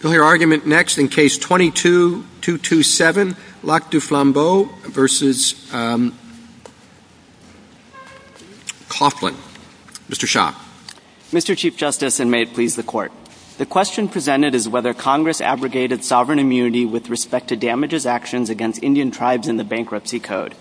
Mr. Chief Justice, and may it please the Court, the question presented is whether Congress abrogated sovereign immunity with respect to damages actions against Indian tribes in the Bankruptcy Code.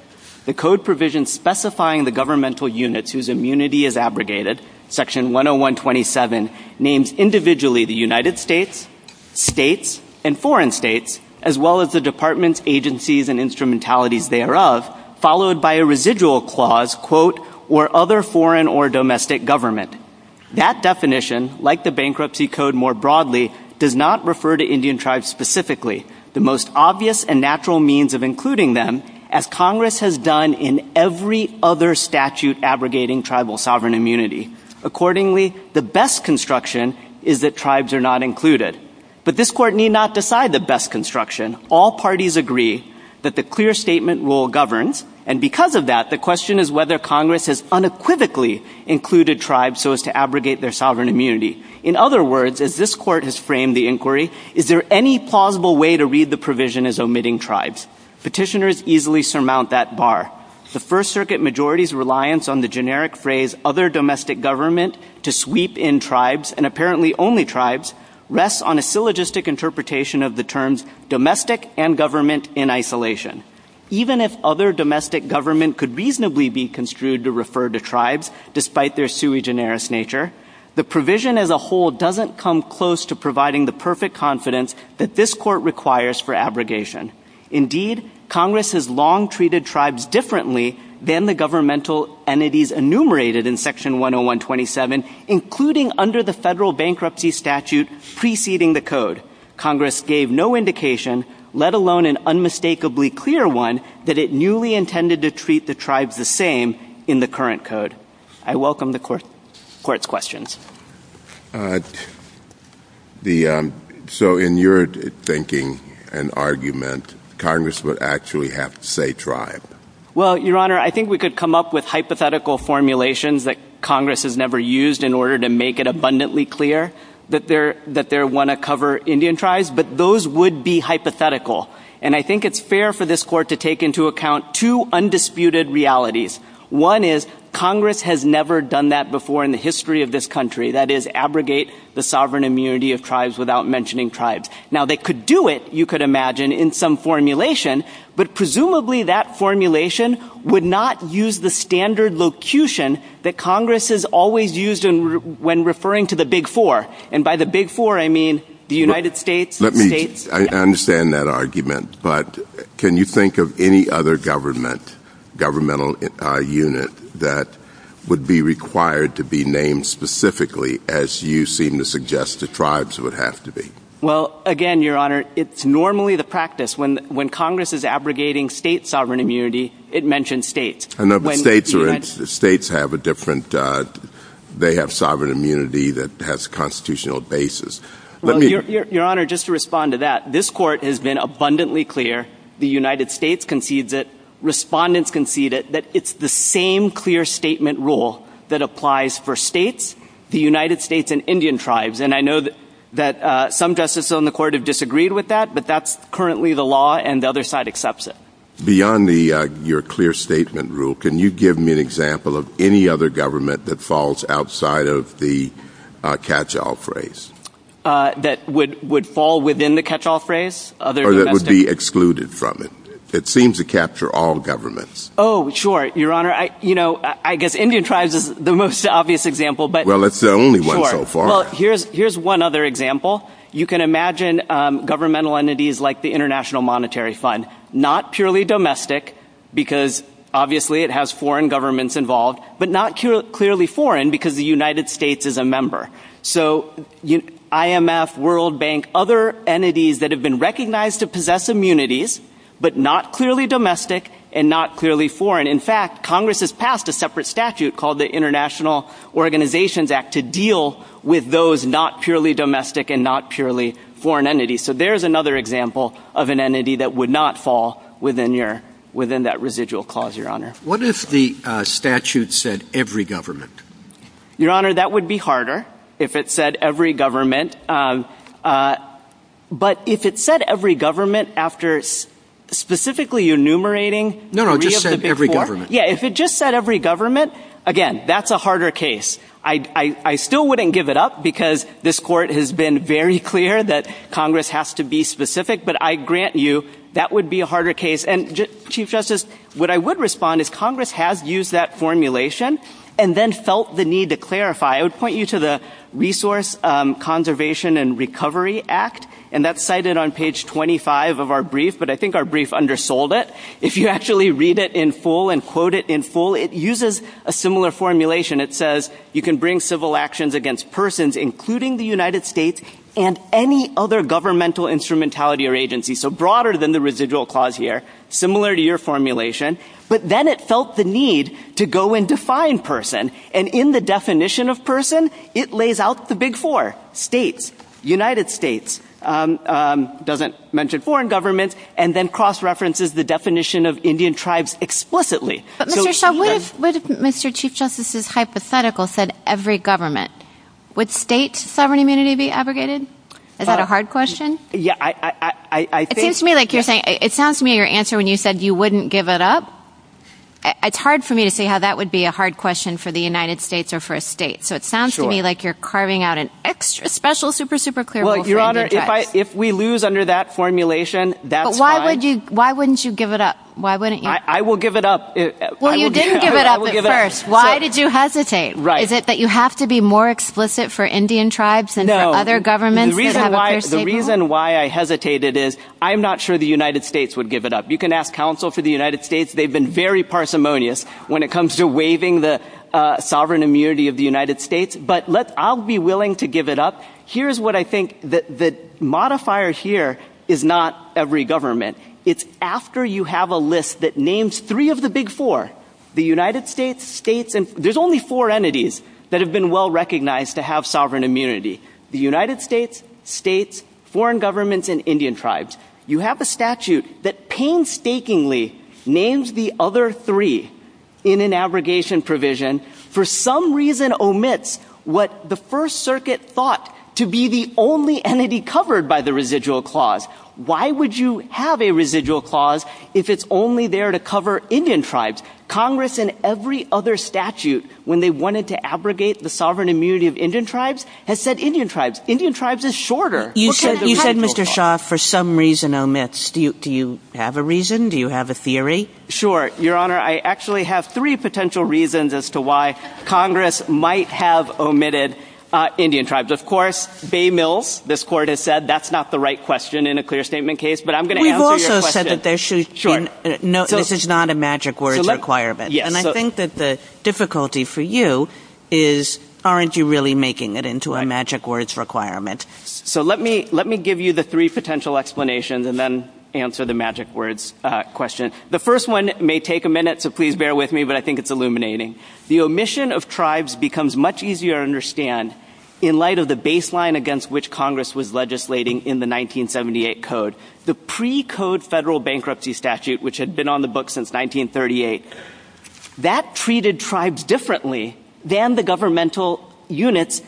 The Code provision specifying the governmental units whose immunity is abrogated, section 10127, names individually the United States, states, and foreign states, as well as the departments, agencies, and instrumentalities thereof, followed by a residual clause, quote, or other foreign or domestic government. That definition, like the Bankruptcy Code more broadly, does not refer to Indian tribes specifically, the most obvious and natural means of including them, as Congress has done in every other statute abrogating tribal sovereign immunity. Accordingly, the best construction is that tribes are not included. But this Court need not decide the best construction. All parties agree that the clear statement rule governs, and because of that, the question is whether Congress has unequivocally included tribes so as to abrogate their sovereign immunity. In other words, as this Court has framed the inquiry, is there any plausible way to read the provision as omitting tribes? Petitioners easily surmount that bar. The First Circuit majority's reliance on the generic phrase, other domestic government, to sweep in tribes, and apparently only tribes, rests on a syllogistic interpretation of the terms domestic and government in isolation. Even if other domestic government could reasonably be construed to refer to tribes, despite their sui generis nature, the provision as a whole doesn't come close to abrogation. Indeed, Congress has long treated tribes differently than the governmental entities enumerated in Section 10127, including under the federal bankruptcy statute preceding the code. Congress gave no indication, let alone an unmistakably clear one, that it newly intended to treat the tribes the same in the current code. I welcome the Court's questions. Uh, the, um, so in your thinking and argument, Congress would actually have to say tribe? Well, Your Honor, I think we could come up with hypothetical formulations that Congress has never used in order to make it abundantly clear that they're, that they want to cover Indian tribes, but those would be hypothetical. And I think it's fair for this Court to take into account two that is abrogate the sovereign immunity of tribes without mentioning tribes. Now they could do it, you could imagine, in some formulation, but presumably that formulation would not use the standard locution that Congress has always used when referring to the big four. And by the big four, I mean the United States, the states. Let me, I understand that argument, but can you think of any other government, governmental, uh, unit that would be required to be named specifically as you seem to suggest the tribes would have to be? Well, again, Your Honor, it's normally the practice when, when Congress is abrogating state sovereign immunity, it mentions states. I know, but states are, states have a different, uh, they have sovereign immunity that has constitutional basis. Let me... Your Honor, just to respond to that, this Court has been abundantly clear the United States concedes it, respondents concede it, that it's the same clear statement rule that applies for states, the United States and Indian tribes. And I know that, that, uh, some justices on the Court have disagreed with that, but that's currently the law and the other side accepts it. Beyond the, uh, your clear statement rule, can you give me an example of any other government that falls outside of the, uh, catch-all phrase? Uh, that would, would fall within the It seems to capture all governments. Oh, sure. Your Honor, I, you know, I guess Indian tribes is the most obvious example, but... Well, it's the only one so far. Sure. Well, here's, here's one other example. You can imagine, um, governmental entities like the International Monetary Fund, not purely domestic because obviously it has foreign governments involved, but not clearly foreign because the United States is a member. So you, IMF, World Bank, other entities that have recognized to possess immunities, but not clearly domestic and not clearly foreign. In fact, Congress has passed a separate statute called the International Organizations Act to deal with those not purely domestic and not purely foreign entities. So there's another example of an entity that would not fall within your, within that residual clause, Your Honor. What if the statute said every government? Your Honor, that would be harder if it said every government. Um, uh, but if it said every government after specifically enumerating... No, no, just said every government. Yeah. If it just said every government, again, that's a harder case. I, I, I still wouldn't give it up because this court has been very clear that Congress has to be specific, but I grant you that would be a harder case. And Chief Justice, what I would respond is Congress has used that formulation and then felt the need to clarify. I would point you to the Resource Conservation and Recovery Act, and that's cited on page 25 of our brief, but I think our brief undersold it. If you actually read it in full and quote it in full, it uses a similar formulation. It says you can bring civil actions against persons, including the United States and any other governmental instrumentality or agency. So broader than the residual clause here, similar to your formulation, but then it felt the need to go and define person. And in the definition of person, it lays out the big four states, United States, um, um, doesn't mention foreign governments and then cross-references the definition of Indian tribes explicitly. But Mr. Shah, what if, what if Mr. Chief Justice's hypothetical said every government, would state sovereign immunity be abrogated? Is that a hard question? Yeah, I, I, I think... It seems to me like you're saying, it sounds to me your answer when you said you wouldn't give it up. It's hard for me to see how that would be a hard question for the United States or for a state. So it sounds to me like you're carving out an extra special, super, super clear. If we lose under that formulation, that's fine. Why would you, why wouldn't you give it up? Why wouldn't you? I will give it up. Well, you didn't give it up at first. Why did you hesitate? Is it that you have to be more explicit for Indian tribes and other governments? The reason why, the reason why I hesitated is I'm not sure the United States would give it up. You can ask counsel for the United States. They've been very parsimonious when it comes to waiving the sovereign immunity of the United States, but let, I'll be willing to give it up. Here's what I think that the modifier here is not every government. It's after you have a list that names three of the big four, the United States, states, and there's only four entities that have been well-recognized to have sovereign immunity. The United States, states, foreign governments, and Indian tribes. You have a statute that painstakingly names the other three in an abrogation provision for some reason omits what the first circuit thought to be the only entity covered by the residual clause. Why would you have a residual clause if it's only there to cover Indian tribes? Congress and every other statute, when they wanted to abrogate the sovereign immunity of Indian tribes, has said Indian tribes. Indian tribes is shorter. You said, Mr. Shah, for some reason omits. Do you have a reason? Do you have a theory? Sure. Your Honor, I actually have three potential reasons as to why Congress might have omitted Indian tribes. Of course, Bay Mills, this court has said, that's not the right question in a clear statement case, but I'm going to answer your question. We've also said that there should be no, this is not a magic words requirement. And I think that the difficulty for you is aren't you really making it into a magic words requirement? So let me give you the three potential explanations and then answer the magic words question. The first one may take a minute, so please bear with me, but I think it's illuminating. The omission of tribes becomes much easier to understand in light of the baseline against which Congress was legislating in the 1978 code. The pre-code federal bankruptcy statute, which had been on the book since 1938, that treated tribes differently than the governmental units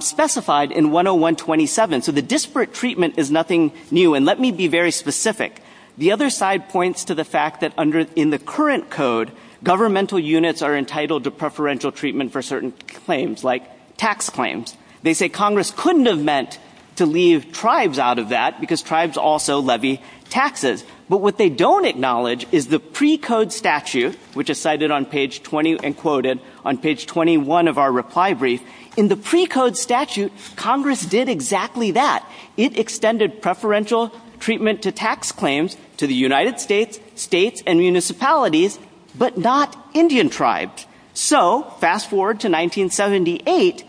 specified in 101-27. So the disparate treatment is nothing new. And let me be very specific. The other side points to the fact that in the current code, governmental units are entitled to preferential treatment for certain claims, like tax claims. They say Congress couldn't have meant to leave tribes out of that because tribes also levy taxes. But what they don't acknowledge is the pre-code statute, which is cited on page 20 and quoted on page 21 of our reply brief, in the pre-code statute, Congress did exactly that. It extended preferential treatment to tax claims to the United States, states, and municipalities, but not Indian tribes. So fast forward to 1978,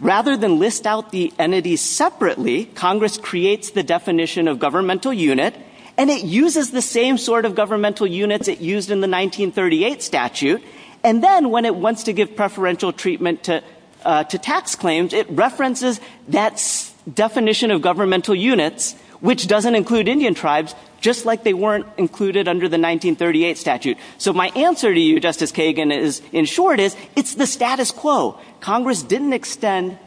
rather than list out the entities separately, Congress creates the definition of governmental unit, and it uses the same sort of governmental units it used in the to tax claims. It references that definition of governmental units, which doesn't include Indian tribes, just like they weren't included under the 1938 statute. So my answer to you, Justice Kagan, is, in short, is it's the status quo. Congress didn't extend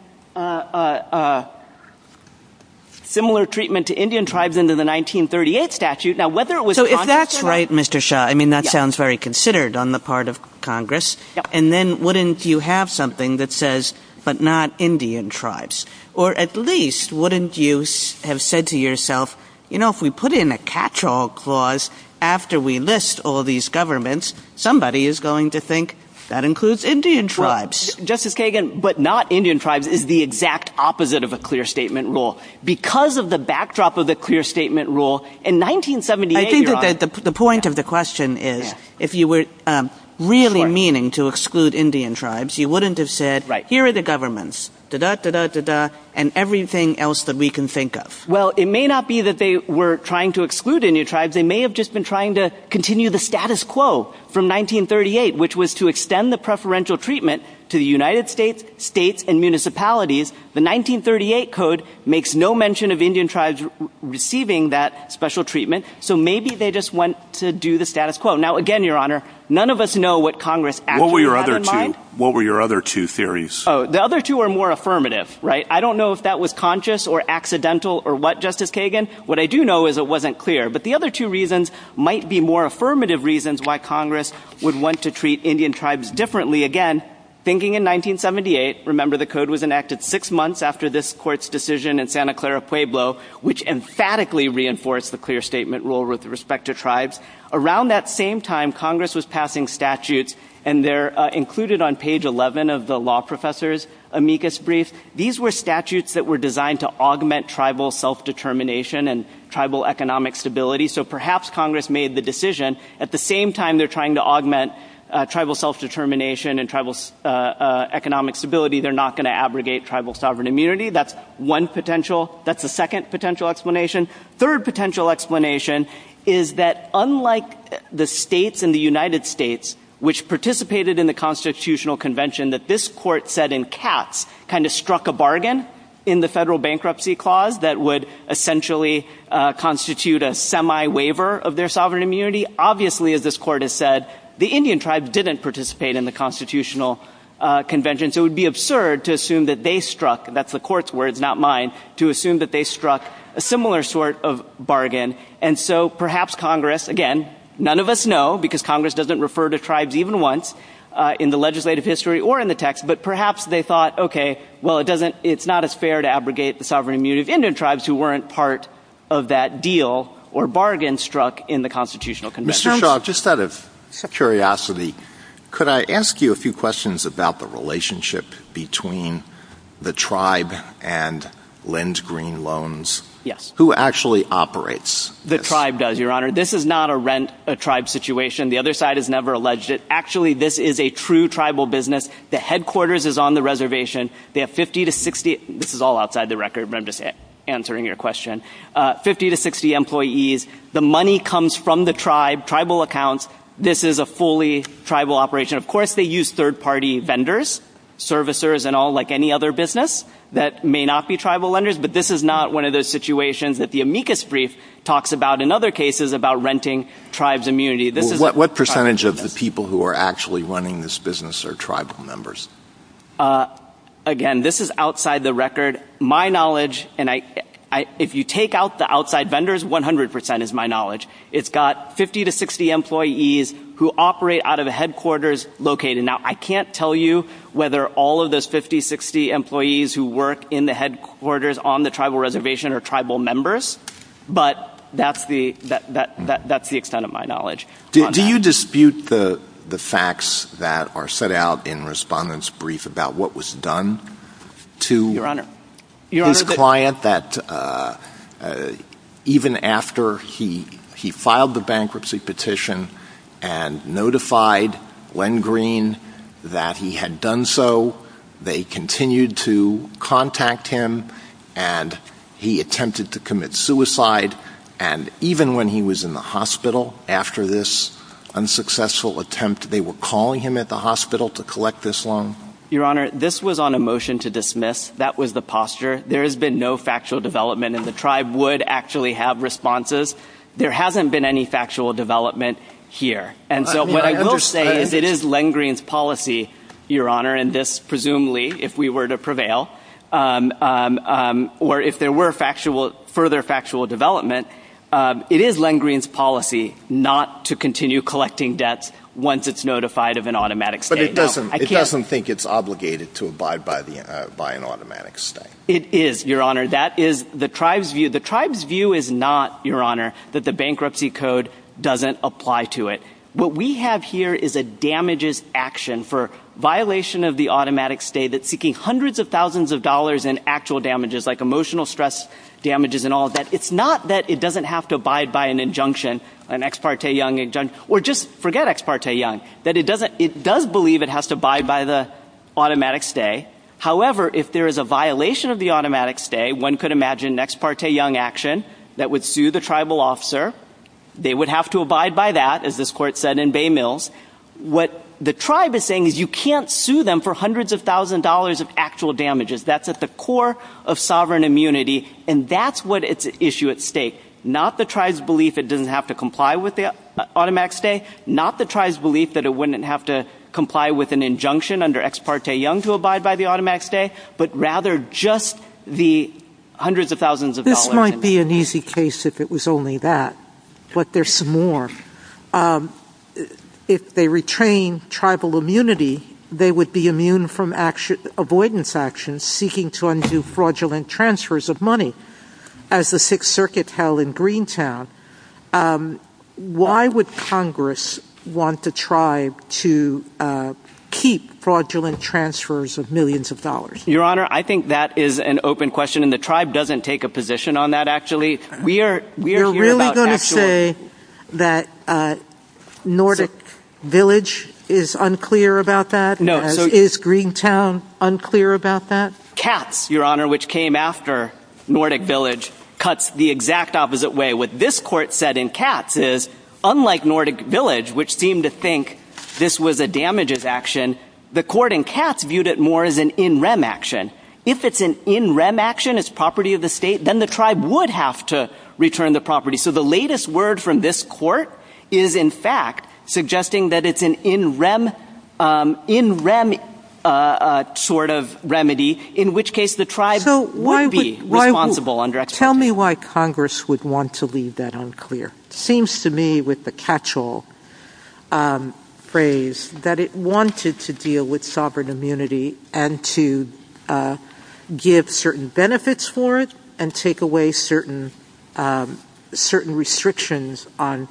similar treatment to Indian tribes under the 1938 statute. Now, whether it was conscious or not So if that's right, Mr. Shah, I mean, that sounds very considered on the part of Congress. And then wouldn't you have something that says, but not Indian tribes? Or at least, wouldn't you have said to yourself, you know, if we put in a catch-all clause after we list all these governments, somebody is going to think that includes Indian tribes? Justice Kagan, but not Indian tribes is the exact opposite of a clear statement rule. Because of the backdrop of the clear statement rule, in 1978, Your Honor, the point of the question is, if you were really meaning to exclude Indian tribes, you wouldn't have said, here are the governments, and everything else that we can think of. Well, it may not be that they were trying to exclude Indian tribes. They may have just been trying to continue the status quo from 1938, which was to extend the preferential treatment to the United States, states, and municipalities. The 1938 code makes no mention of Indian tribes receiving that special treatment. So maybe they just went to do the status quo. Now, again, Your Honor, none of us know what Congress actually had in mind. What were your other two theories? Oh, the other two are more affirmative, right? I don't know if that was conscious or accidental or what, Justice Kagan. What I do know is it wasn't clear. But the other two reasons might be more affirmative reasons why Congress would want to treat Indian tribes differently. Again, thinking in 1978, remember the code was enacted six months after this court's decision in Santa Clara Pueblo, which emphatically reinforced the clear statement rule with respect to tribes. Around that same time, Congress was passing statutes, and they're included on page 11 of the law professor's amicus brief. These were statutes that were designed to augment tribal self-determination and tribal economic stability. So perhaps Congress made the decision, at the same time they're trying to augment tribal self-determination and tribal economic stability, they're not going to abrogate tribal sovereign immunity. That's one potential. That's the second potential explanation. Third potential explanation is that, unlike the states in the United States, which participated in the constitutional convention that this court said in Katz kind of struck a bargain in the federal bankruptcy clause that would essentially constitute a semi-waiver of their sovereign immunity, obviously, as this court has said, the Indian tribe didn't participate in the constitutional convention. So it would be absurd to assume that they struck—that's the court's words, not mine—to assume that they struck a similar sort of bargain. And so perhaps Congress—again, none of us know, because Congress doesn't refer to tribes even once in the legislative history or in the text—but perhaps they thought, okay, well, it's not as fair to abrogate the sovereign immunity of Indian tribes who weren't part of that deal or bargain struck in the constitutional convention. Mr. Shaw, just out of curiosity, could I ask you a few questions about the relationship between the tribe and Lindgreen Loans? Yes. Who actually operates this? The tribe does, Your Honor. This is not a rent-a-tribe situation. The other side has never alleged it. Actually, this is a true tribal business. The headquarters is on the reservation. They have 50 to 60—this is all outside the record, but I'm just answering your question—50 to 60 employees. The money comes from the tribe, tribal accounts. This is a fully tribal operation. Of course, they use third-party vendors, servicers and all like any other business that may not be tribal lenders, but this is not one of those situations that the amicus brief talks about in other cases about renting tribes' immunity. Well, what percentage of the people who are actually running this business are tribal members? Again, this is outside the record. My knowledge—and if you take out the outside vendors, 100 percent is my knowledge. It's got 50 to 60 employees who operate out of the headquarters located. Now, I can't tell you whether all of those 50, 60 employees who work in the headquarters on the tribal reservation are tribal members, but that's the extent of my knowledge. Do you dispute the facts that are set out in Respondent's brief about what was done to— Your Honor— His client that even after he filed the bankruptcy petition and notified Len Green that he had done so, they continued to contact him, and he attempted to commit suicide, and even when he was in the hospital after this unsuccessful attempt, they were calling him at the hospital to collect this loan? Your Honor, this was on a motion to dismiss. That was the posture. There has been no factual development, and the tribe would actually have responses. There hasn't been any factual development here. And so what I will say is it is Len Green's policy, Your Honor, and this presumably, if we were to prevail, or if there were further factual development, it is Len Green's policy not to continue collecting debts once it's notified of an automatic statement. It doesn't think it's obligated to abide by an automatic stay. It is, Your Honor. That is the tribe's view. The tribe's view is not, Your Honor, that the bankruptcy code doesn't apply to it. What we have here is a damages action for violation of the automatic stay that's seeking hundreds of thousands of dollars in actual damages, like emotional stress damages and all of that. It's not that it doesn't have to abide by an injunction, an Ex parte Young injunction, or just forget Ex parte Young, that it does believe it has to abide by the automatic stay. However, if there is a violation of the automatic stay, one could imagine an Ex parte Young action that would sue the tribal officer. They would have to abide by that, as this Court said in Bay Mills. What the tribe is saying is you can't sue them for hundreds of thousands of dollars of actual damages. That's at the core of sovereign immunity, and that's what is at stake. Not the tribe's belief it doesn't have to comply with the injunction under Ex parte Young to abide by the automatic stay, but rather just the hundreds of thousands of dollars. This might be an easy case if it was only that, but there's some more. If they retrain tribal immunity, they would be immune from avoidance actions seeking to undo fraudulent transfers of money, as the Sixth Circuit held in Greentown. Why would Congress want the tribe to keep fraudulent transfers of millions of dollars? Your Honor, I think that is an open question, and the tribe doesn't take a position on that, actually. We are here about actual... You're really going to say that Nordic Village is unclear about that, as is Greentown unclear about that? Cats, Your Honor, which came after Nordic Village, cuts the exact opposite way. What this court said in Cats is, unlike Nordic Village, which seemed to think this was a damages action, the court in Cats viewed it more as an in rem action. If it's an in rem action, it's property of the state, then the tribe would have to return the property. So the latest word from this court is, in fact, suggesting that it's an in rem sort of remedy, in which case the tribe would be responsible under expectation. Tell me why Congress would want to leave that unclear. It seems to me, with the catch-all phrase, that it wanted to deal with sovereign immunity and to give certain benefits for it and take away certain restrictions on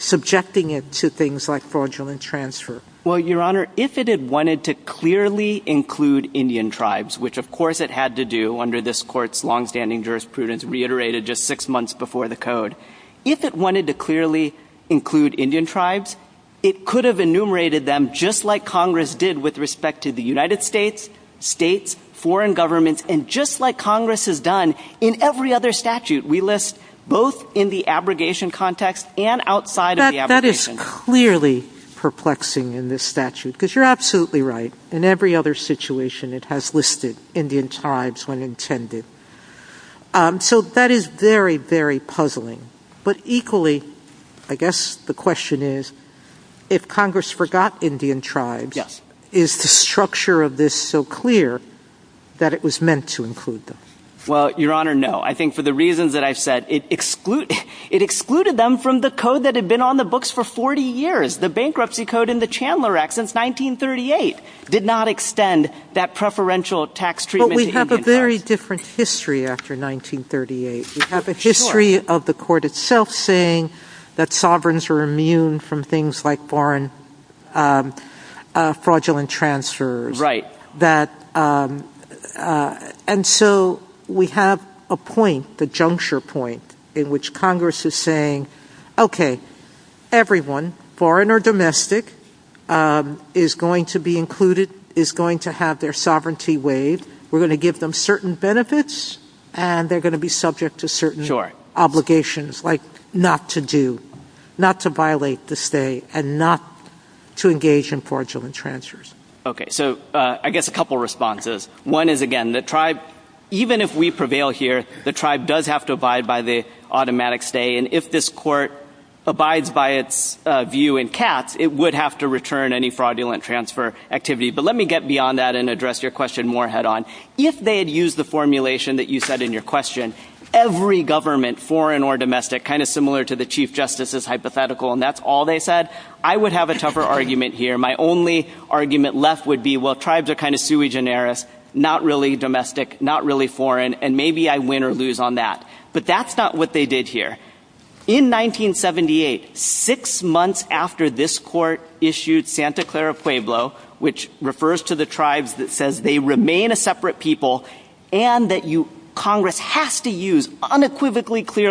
subjecting it to things like fraudulent transfer. Well, Your Honor, if it had wanted to clearly include Indian tribes, which, of course, it had to do under this court's longstanding jurisprudence reiterated just six months before the code, if it wanted to clearly include Indian tribes, it could have enumerated them just like Congress did with respect to the United States, states, foreign governments, and just like Congress has done in every other statute we list, both in the abrogation context and outside of the abrogation context. Clearly perplexing in this statute, because you're absolutely right. In every other situation, it has listed Indian tribes when intended. So that is very, very puzzling. But equally, I guess the question is, if Congress forgot Indian tribes, is the structure of this so clear that it was meant to include them? Well, Your Honor, no. I think for the reasons that I've said, it excluded them from the The bankruptcy code in the Chandler Act since 1938 did not extend that preferential tax treatment to Indian tribes. But we have a very different history after 1938. We have a history of the court itself saying that sovereigns are immune from things like foreign fraudulent transfers. Right. And so we have a point, the juncture point, in which Congress is saying, okay, everyone, foreign or domestic, is going to be included, is going to have their sovereignty waived. We're going to give them certain benefits, and they're going to be subject to certain obligations like not to do, not to violate the stay, and not to engage in fraudulent transfers. Okay. So I guess a couple of responses. One is, again, the tribe, even if we prevail here, the tribe does have to abide by the automatic stay. And if this court abides by its view in Katz, it would have to return any fraudulent transfer activity. But let me get beyond that and address your question more head-on. If they had used the formulation that you said in your question, every government, foreign or domestic, kind of similar to the Chief Justice's hypothetical, and that's all they said, I would have a tougher argument here. My only argument left would be, well, tribes are kind of sui generis, not really domestic, not really foreign, and maybe I win or lose on that. But that's not what they did here. In 1978, six months after this court issued Santa Clara Pueblo, which refers to the tribes that says they remain a separate people, and that Congress has to use unequivocally clear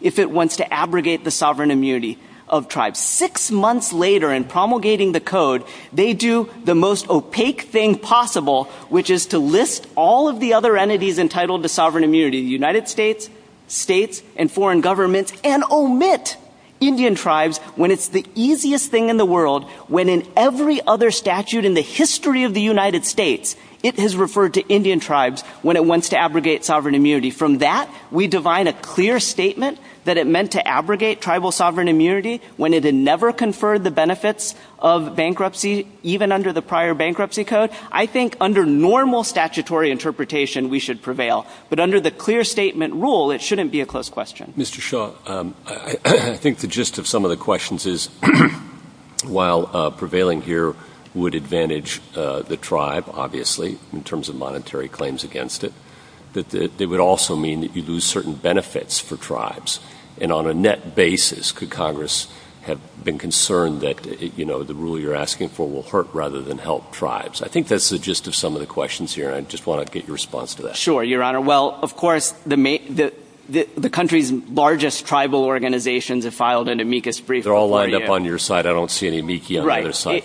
if it wants to abrogate the sovereign immunity of tribes. Six months later, in promulgating the code, they do the most opaque thing possible, which is to list all of the other entities entitled to sovereign immunity, the United States, states, and foreign governments, and omit Indian tribes when it's the easiest thing in the world, when in every other statute in the history of the United States, it has referred to Indian that it meant to abrogate tribal sovereign immunity when it had never conferred the benefits of bankruptcy, even under the prior bankruptcy code. I think under normal statutory interpretation, we should prevail. But under the clear statement rule, it shouldn't be a close question. Mr. Shaw, I think the gist of some of the questions is, while prevailing here would advantage the tribe, obviously, in terms of monetary claims against it, it would also mean that you lose certain benefits for tribes. And on a net basis, could Congress have been concerned that the rule you're asking for will hurt rather than help tribes? I think that's the gist of some of the questions here, and I just want to get your response to that. Sure, Your Honor. Well, of course, the country's largest tribal organizations have filed an amicus brief. They're all lined up on your side. I don't see any amici on the other side.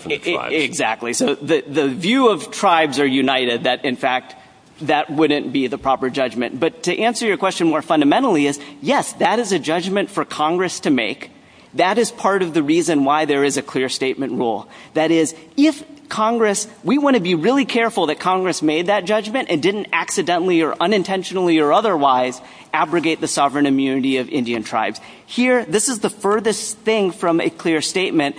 That wouldn't be the proper judgment. But to answer your question more fundamentally is, yes, that is a judgment for Congress to make. That is part of the reason why there is a clear statement rule. That is, if Congress, we want to be really careful that Congress made that judgment and didn't accidentally or unintentionally or otherwise abrogate the sovereign immunity of Indian tribes. Here, this is the furthest thing from a clear statement,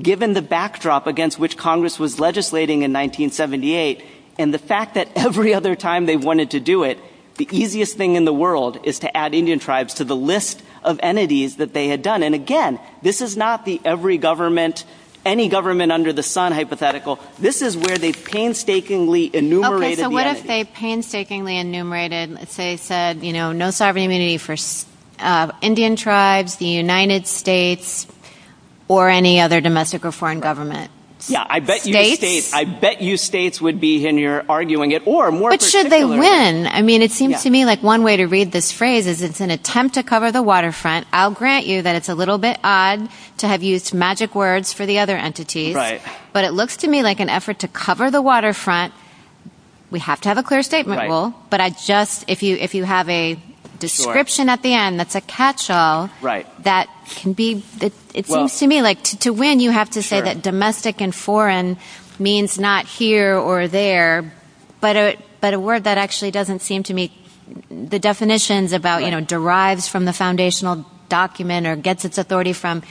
given the backdrop against which Congress was legislating in 1978 and the fact that every other time they wanted to do it, the easiest thing in the world is to add Indian tribes to the list of entities that they had done. And again, this is not the every government, any government under the sun hypothetical. This is where they painstakingly enumerated the entity. Okay, so what if they painstakingly enumerated, let's say, said, you know, no sovereign immunity for Indian tribes, the United States, or any other domestic or foreign government? Yeah, I bet you states, I bet you states would be in your arguing it or more. But should they win? I mean, it seems to me like one way to read this phrase is it's an attempt to cover the waterfront. I'll grant you that it's a little bit odd to have used magic words for the other entities, right? But it looks to me like an effort to cover the waterfront. We have to have a clear statement rule. But I just if you if you have a description at the end, that's a catch all right, that can be that it seems to me like to win, you have to say that domestic and foreign means not here or there. But but a word that actually doesn't seem to me the definitions about you know, derives from the foundational document or gets its authority from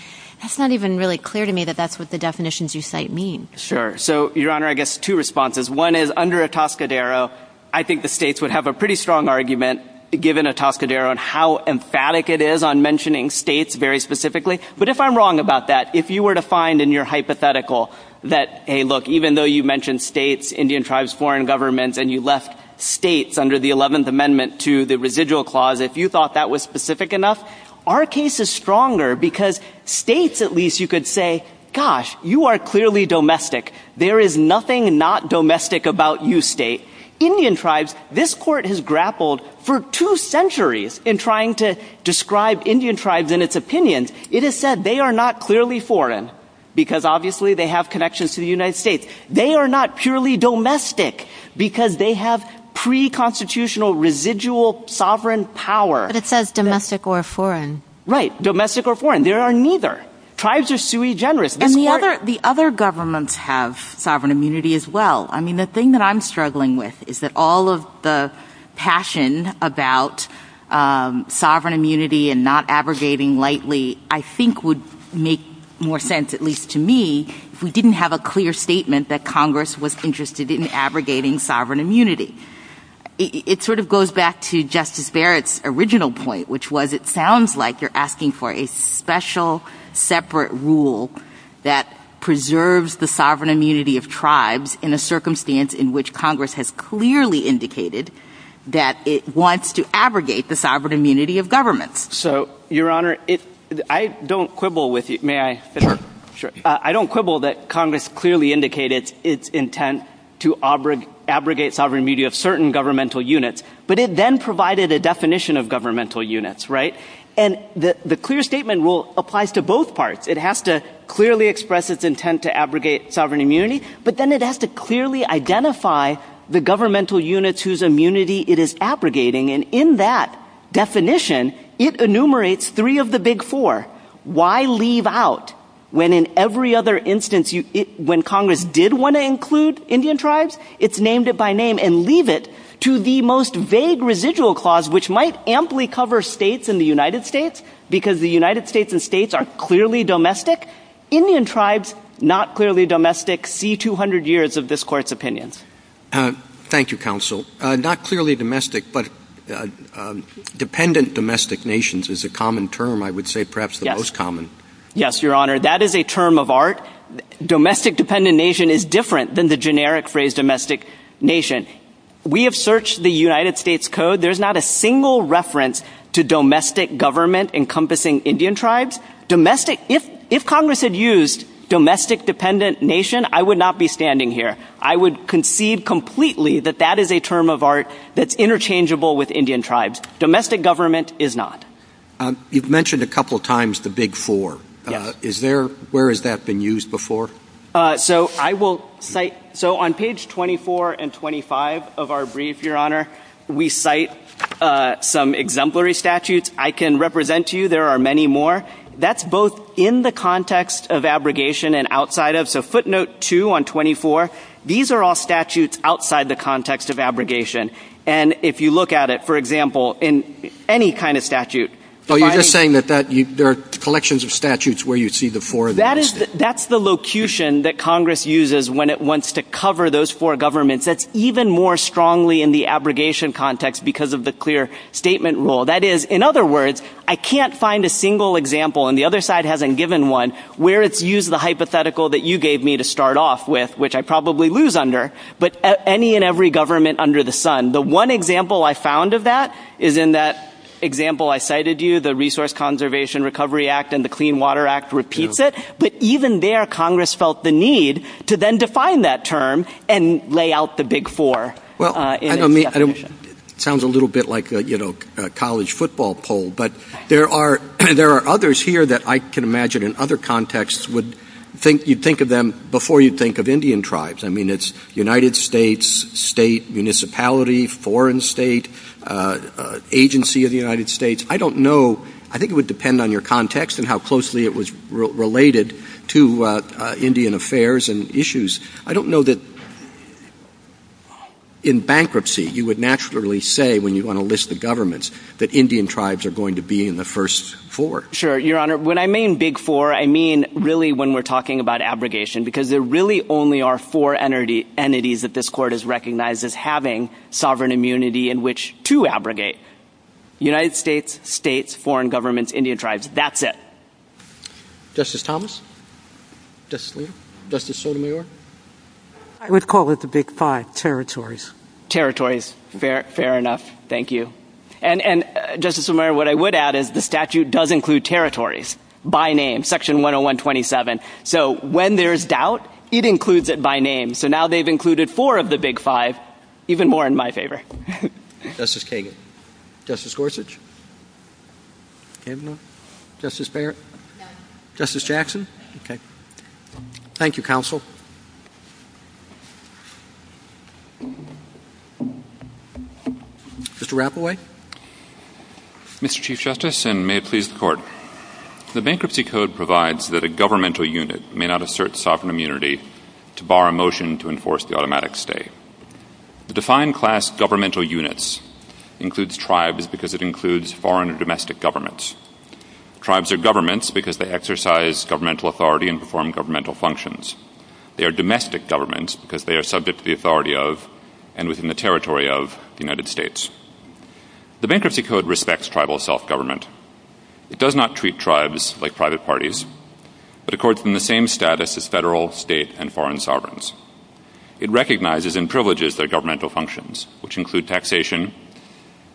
that's not even really clear to me that that's what the definitions you cite mean. Sure. So Your Honor, I guess two responses. One is under a Toscadero. I think the states would have a pretty strong argument, given a Toscadero and how emphatic it is on mentioning states very specifically. But if I'm wrong about that, if you were to find in your hypothetical, that a look, even though you mentioned states, Indian tribes, foreign governments, and you left states under the 11th Amendment to the residual clause, if you thought that was specific enough, our case is stronger because states at least you could say, gosh, you are clearly domestic. There is nothing not domestic about you state. Indian tribes, this court has grappled for two centuries in trying to describe Indian tribes and its opinions. It is said they are not clearly foreign, because obviously they have connections to the United States. They are not purely domestic, because they have pre constitutional residual sovereign power. But it says domestic or foreign. Right, domestic or foreign. There are neither. Tribes are sui generis. The other governments have sovereign immunity as well. I mean, the thing that I'm struggling with is that all of the passion about sovereign immunity and not abrogating lightly, I think, would make more sense, at least to me, if we didn't have a clear statement that Congress was interested in abrogating sovereign immunity. It sort of goes back to Justice Barrett's original point, which was it sounds like you're asking for a special separate rule that preserves the sovereign immunity of tribes in a circumstance in which Congress has clearly indicated that it wants to abrogate the sovereign immunity of governments. So, Your Honor, I don't quibble with you. May I? Sure. I don't quibble that Congress clearly indicated its intent to abrogate sovereign immunity of governmental units, but it then provided a definition of governmental units. Right? And the clear statement rule applies to both parts. It has to clearly express its intent to abrogate sovereign immunity, but then it has to clearly identify the governmental units whose immunity it is abrogating. And in that definition, it enumerates three of the big four. Why leave out when in every other instance when Congress did want to include Indian tribes, it's named it by name and leave it to the most vague residual clause, which might amply cover states in the United States, because the United States and states are clearly domestic. Indian tribes, not clearly domestic, see 200 years of this Court's opinions. Thank you, Counsel. Not clearly domestic, but dependent domestic nations is a common term, I would say, perhaps the most common. Yes, Your Honor. That is a term of art. Domestic dependent nation is different than the generic phrase domestic nation. We have searched the United States Code, there's not a single reference to domestic government encompassing Indian tribes. Domestic, if Congress had used domestic dependent nation, I would not be standing here. I would concede completely that that is a term of art that's interchangeable with Indian tribes. Domestic government is not. You've mentioned a couple times the big four. Yes. Is there, where has that been used before? So I will cite, so on page 24 and 25 of our brief, Your Honor, we cite some exemplary statutes. I can represent to you, there are many more. That's both in the context of abrogation and outside of, so footnote two on 24, these are all statutes outside the context of abrogation. And if you look at it, for example, in any kind of statute. So you're just saying that there are collections of statutes where you'd see the four in the United States? That's the locution that Congress uses when it wants to cover those four governments. That's even more strongly in the abrogation context because of the clear statement rule. That is, in other words, I can't find a single example, and the other side hasn't given one, where it's used the hypothetical that you gave me to start off with, which I probably lose under, but any and every government under the sun. The one example I found of that is in that example I cited to you, the Resource Conservation Recovery Act and the Clean Water Act repeats it. But even there, Congress felt the need to then define that term and lay out the big four. Well, I don't mean, it sounds a little bit like a, you know, a college football poll, but there are, there are others here that I can imagine in other contexts would think, you'd think of them before you'd think of Indian tribes. I mean, it's United States, state, municipality, foreign state, agency of the United States. I don't know, I think it would depend on your context and how closely it was related to Indian affairs and issues. I don't know that in bankruptcy, you would naturally say when you want to list the governments that Indian tribes are going to be in the first four. Sure, Your Honor. When I mean big four, I mean really when we're talking about abrogation because there really only are four entities that this Court has recognized as having sovereign immunity in which to abrogate. United States, states, foreign governments, Indian tribes, that's it. Justice Thomas, Justice Sotomayor. I would call it the big five, territories. Territories, fair enough. Thank you. And Justice Sotomayor, what I would add is the statute does include territories by name, section 10127. So when there's doubt, it includes it by name. So now they've included four of the big five, even more in my favor. Justice Kagan. Justice Gorsuch. Justice Barrett. Justice Jackson. Okay. Thank you, Counsel. Mr. Rappaway. Mr. Chief Justice, and may it please the Court. The Bankruptcy Code provides that a governmental unit may not assert sovereign immunity to bar a motion to enforce the automatic stay. The defined class governmental units includes tribes because it includes foreign or domestic governments. Tribes are governments because they exercise governmental authority and perform governmental functions. They are domestic governments because they are subject to the authority of and within the territory of the United States. The Bankruptcy Code respects tribal self-government. It does not treat tribes like private parties, but accords them the same status as federal, state, and foreign sovereigns. It recognizes and privileges their governmental functions, which include taxation,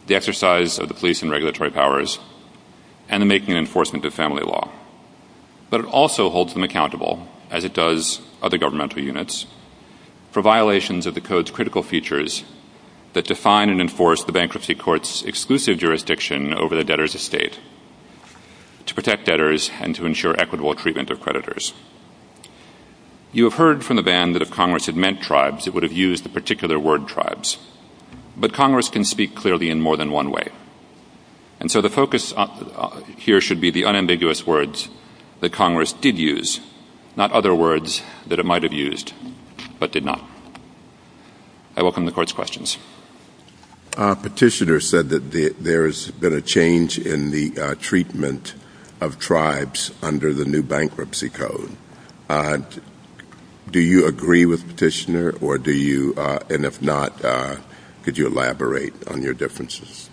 the exercise of the police and regulatory powers, and the making and enforcement of family law. But it also holds them accountable, as it does other governmental units, for violations of the Code's critical features that define and enforce the Bankruptcy Court's exclusive jurisdiction over the debtor's estate to protect debtors and to ensure equitable treatment of creditors. You have heard from the band that if Congress had meant tribes, it would have used the particular word tribes. But Congress can speak clearly in more than one way. And so the focus here should be the unambiguous words that Congress did use, not other words that it might have used, but did not. I welcome the Court's questions. Petitioner said that there has been a change in the treatment of tribes under the new Bankruptcy Code. Do you agree with Petitioner? Or do you, and if not, could you elaborate on your differences?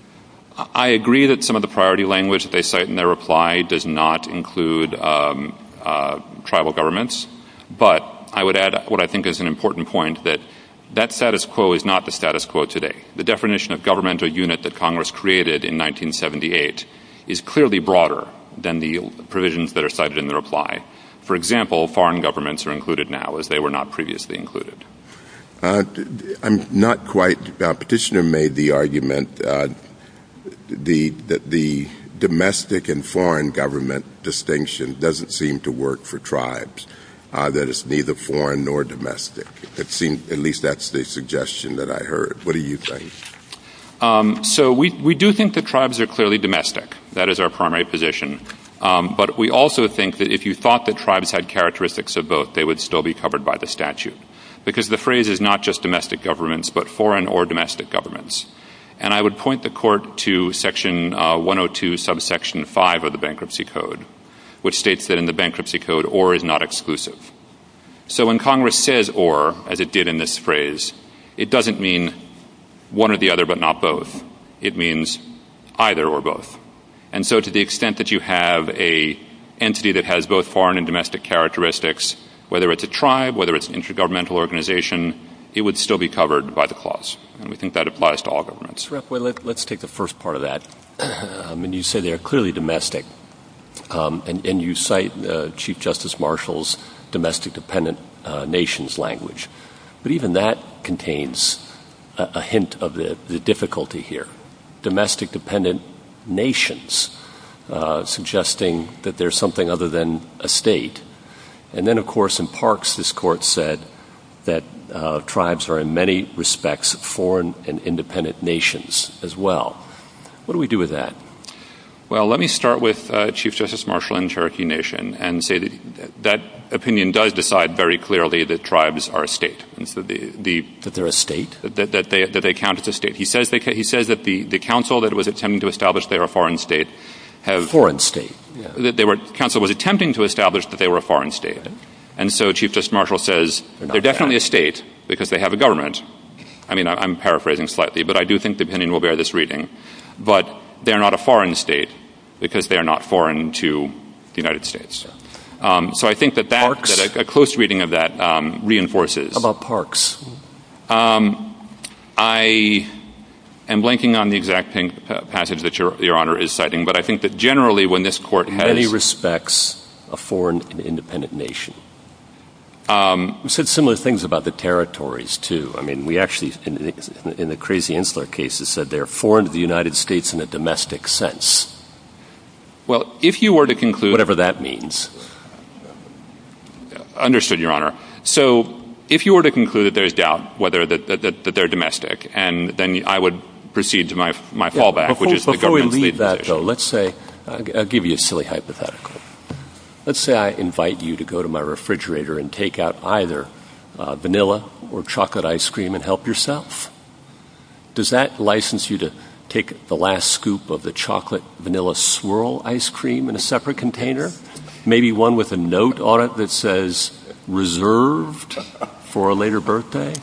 I agree that some of the priority language that they cite in their reply does not include tribal governments. But I would add what I think is an important point, that that status quo is not the status quo today. The definition of governmental unit that Congress created in 1978 is clearly broader than the provisions that are cited in the reply. For example, foreign governments are included now, as they were not previously included. I'm not quite, Petitioner made the argument that the domestic and foreign government distinction doesn't seem to work for tribes, that it's neither foreign nor domestic. It seemed, at least that's the suggestion that I heard. What do you think? So we do think that tribes are clearly domestic. That is our primary position. But we also think that if you thought that tribes had characteristics of both, they would still be covered by the statute. Because the phrase is not just domestic governments, but foreign or domestic governments. And I would point the Court to section 102, subsection 5 of the Bankruptcy Code, which states that in the Bankruptcy Code, or is not exclusive. So when Congress says or, as it did in this phrase, it doesn't mean one or the other, but not both. It means either or both. And so to the extent that you have a entity that has both foreign and domestic characteristics, whether it's a tribe, whether it's an intergovernmental organization, it would still be covered by the clause. And we think that applies to all governments. Rep, let's take the first part of that. I mean, you say they are clearly domestic. And you cite Chief Justice Marshall's domestic dependent nations language. But even that contains a hint of the difficulty here. Domestic dependent nations, suggesting that there's something other than a state. And then, of course, in Parks, this Court said that tribes are in many respects foreign and independent nations as well. What do we do with that? Well, let me start with Chief Justice Marshall and the Cherokee Nation and say that opinion does decide very clearly that tribes are a state. And so the... That they're a state? That they count as a state. He says that the council that was attempting to establish they are a foreign state have... Foreign state. Council was attempting to establish that they were a foreign state. And so Chief Justice Marshall says they're definitely a state because they have a government. I mean, I'm paraphrasing slightly. But I do think the opinion will bear this reading. But they're not a foreign state because they are not foreign to the United States. So I think that a close reading of that reinforces... How about Parks? Um, I am blanking on the exact passage that Your Honor is citing. But I think that generally when this Court has... Many respects a foreign and independent nation. Um... We said similar things about the territories, too. I mean, we actually, in the Crazy Insular cases, said they're foreign to the United States in a domestic sense. Well, if you were to conclude... Whatever that means. Understood, Your Honor. So if you were to conclude that there's doubt whether that they're domestic, and then I would proceed to my fallback, which is the government's legalization. Before we leave that, though, let's say... I'll give you a silly hypothetical. Let's say I invite you to go to my refrigerator and take out either vanilla or chocolate ice cream and help yourself. Does that license you to take the last scoop of the chocolate vanilla swirl ice cream in a separate container? Maybe one with a note on it that says, reserved for a later birthday?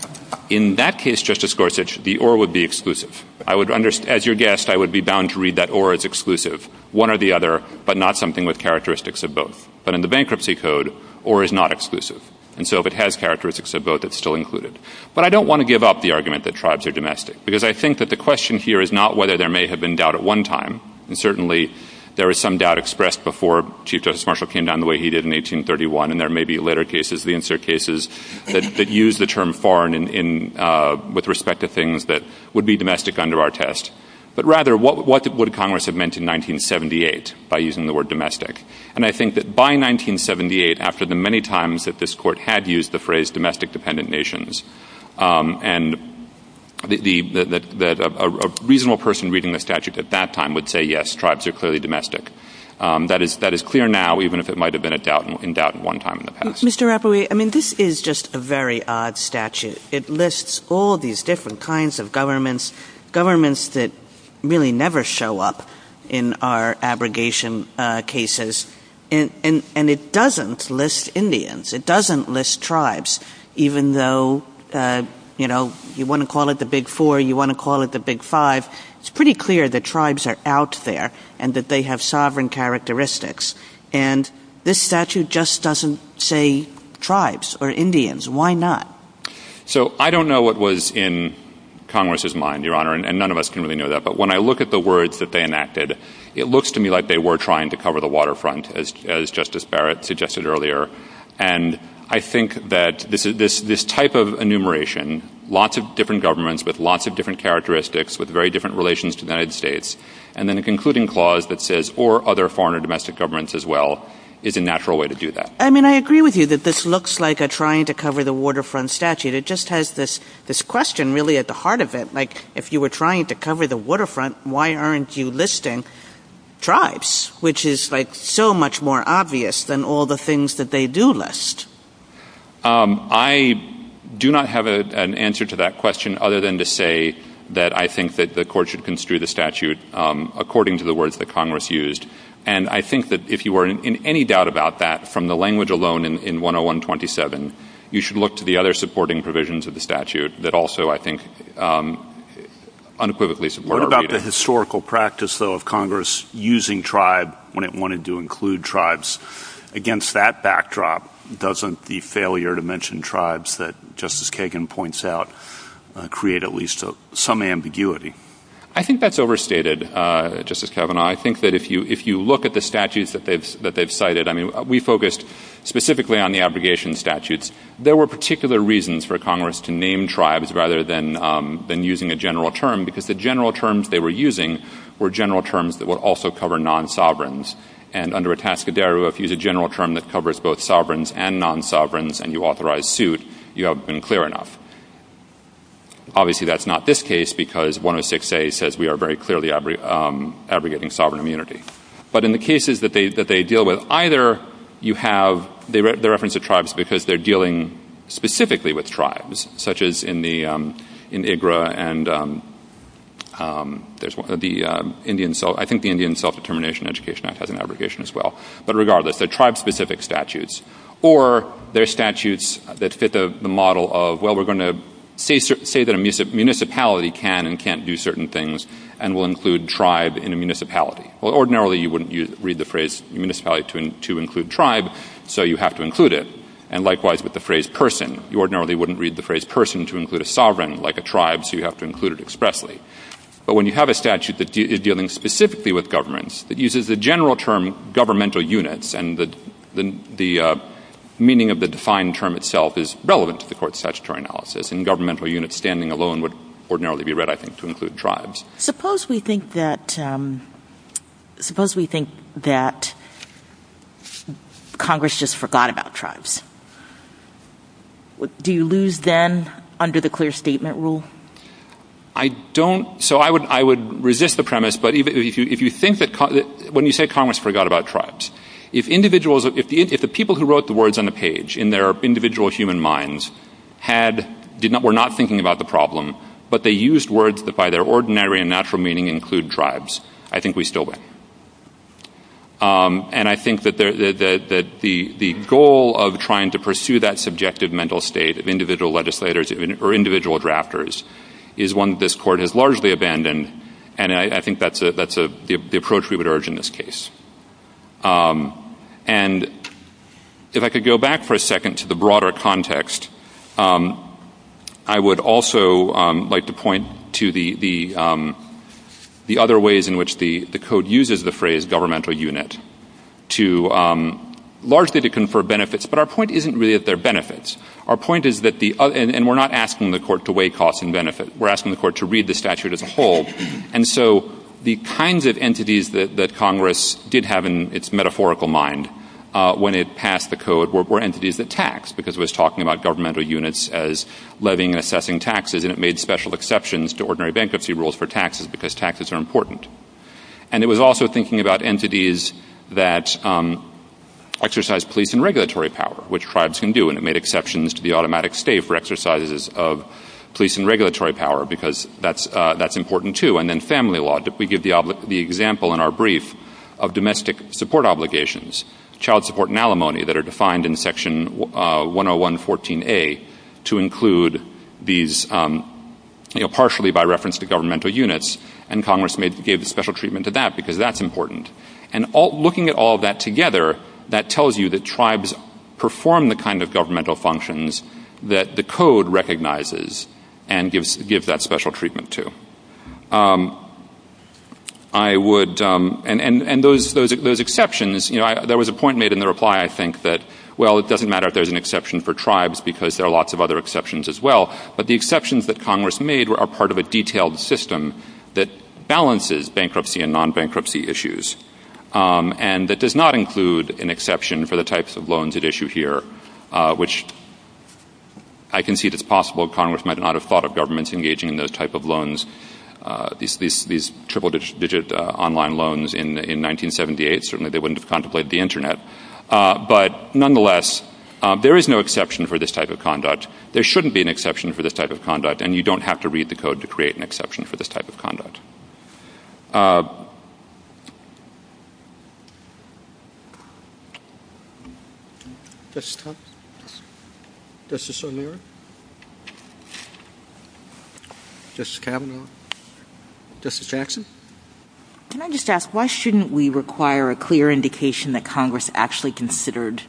In that case, Justice Gorsuch, the or would be exclusive. I would understand... As your guest, I would be bound to read that or as exclusive. One or the other, but not something with characteristics of both. But in the Bankruptcy Code, or is not exclusive. And so if it has characteristics of both, it's still included. But I don't want to give up the argument that tribes are domestic. Because I think that the question here is not whether there may have been doubt at one time. And certainly, there is some doubt expressed before Chief Justice Marshall came down the way he did in 1831. And there may be later cases, the insert cases, that use the term foreign with respect to things that would be domestic under our test. But rather, what would Congress have meant in 1978 by using the word domestic? And I think that by 1978, after the many times that this Court had used the phrase domestic dependent nations, and that a reasonable person reading the statute at that time would say, yes, tribes are clearly domestic. That is clear now, even if it might have been in doubt at one time in the past. Mr. Rapoport, I mean, this is just a very odd statute. It lists all these different kinds of governments, governments that really never show up in our abrogation cases. And it doesn't list Indians. It doesn't list tribes, even though, you know, you want to call it the Big Four, you want to call it the Big Five. It's pretty clear that tribes are out there and that they have sovereign characteristics. And this statute just doesn't say tribes or Indians. Why not? So I don't know what was in Congress's mind, Your Honor, and none of us can really know that. But when I look at the words that they enacted, it looks to me like they were trying to cover the waterfront, as Justice Barrett suggested earlier. And I think that this type of enumeration, lots of different governments with lots of different characteristics, with very different relations to the United States, and then a concluding clause that says, or other foreign or domestic governments as well, is a natural way to do that. I mean, I agree with you that this looks like a trying to cover the waterfront statute. It just has this question really at the heart of it. Like, if you were trying to cover the waterfront, why aren't you listing tribes, which is like so much more obvious than all the things that they do list? I do not have an answer to that question other than to say that I think that the Court should construe the statute according to the words that Congress used. And I think that if you were in any doubt about that from the language alone in 101-27, you should look to the other supporting provisions of the statute that also, I think, unequivocally support our reading. What about the historical practice, though, of Congress using tribe when it wanted to tribes against that backdrop? Doesn't the failure to mention tribes that Justice Kagan points out create at least some ambiguity? I think that's overstated, Justice Kavanaugh. I think that if you look at the statutes that they've cited, I mean, we focused specifically on the abrogation statutes. There were particular reasons for Congress to name tribes rather than using a general term, because the general terms they were using were general terms that would also cover non-sovereigns. And under Atascadero, if you use a general term that covers both sovereigns and non-sovereigns and you authorize suit, you have been clear enough. Obviously, that's not this case, because 106A says we are very clearly abrogating sovereign immunity. But in the cases that they deal with, either you have the reference to tribes because they're dealing specifically with tribes, such as in the — in IGRA and there's — the Indian — I think the Indian Self-Determination Education Act has an abrogation as well. But regardless, they're tribe-specific statutes. Or they're statutes that fit the model of, well, we're going to say that a municipality can and can't do certain things and we'll include tribe in a municipality. Well, ordinarily, you wouldn't read the phrase municipality to include tribe, so you have to include it. And likewise, with the phrase person, you ordinarily wouldn't read the phrase person to include a sovereign, like a tribe, so you have to include it expressly. But when you have a statute that is dealing specifically with governments, that uses the general term governmental units and the meaning of the defined term itself is relevant to the court's statutory analysis, and governmental units standing alone would ordinarily be read, I think, to include tribes. MS. GOTTLIEB Suppose we think that — suppose we think that Congress just forgot about tribes. Do you lose then under the clear statement rule? MR. So I would resist the premise, but if you think that — when you say Congress forgot about tribes, if individuals — if the people who wrote the words on the page in their individual human minds had — were not thinking about the problem, but they used words that by their ordinary and natural meaning include tribes, I think we still win. And I think that the goal of trying to pursue that subjective mental state of individual legislators or individual drafters is one that this Court has largely abandoned, and I think that's the approach we would urge in this case. And if I could go back for a second to the broader context, I would also like to point to the other ways in which the Code uses the phrase governmental unit to — largely to confer benefits, but our point isn't really that they're benefits. Our point is that the — and we're not asking the Court to weigh costs and benefit. We're asking the Court to read the statute as a whole. And so the kinds of entities that Congress did have in its metaphorical mind when it passed the Code were entities that tax, because it was talking about governmental units as levying and assessing taxes, and it made special exceptions to ordinary bankruptcy rules for taxes because taxes are important. And it was also thinking about entities that exercise police and regulatory power, which made exceptions to the automatic stay for exercises of police and regulatory power because that's important, too. And then family law. We give the example in our brief of domestic support obligations, child support and alimony that are defined in Section 10114A to include these, you know, partially by reference to governmental units, and Congress gave special treatment to that because that's important. And looking at all of that together, that tells you that tribes perform the kind of governmental functions that the Code recognizes and gives that special treatment to. I would — and those exceptions, you know, there was a point made in the reply, I think, that, well, it doesn't matter if there's an exception for tribes because there are lots of other exceptions as well, but the exceptions that Congress made are part of a detailed system that balances bankruptcy and non-bankruptcy issues and that does not — I concede it's possible Congress might not have thought of governments engaging in those type of loans, these triple-digit online loans in 1978. Certainly they wouldn't have contemplated the Internet. But nonetheless, there is no exception for this type of conduct. There shouldn't be an exception for this type of conduct, and you don't have to read it. Justice Thompson? Justice O'Mara? Justice Kavanaugh? Justice Jackson? Can I just ask, why shouldn't we require a clear indication that Congress actually considered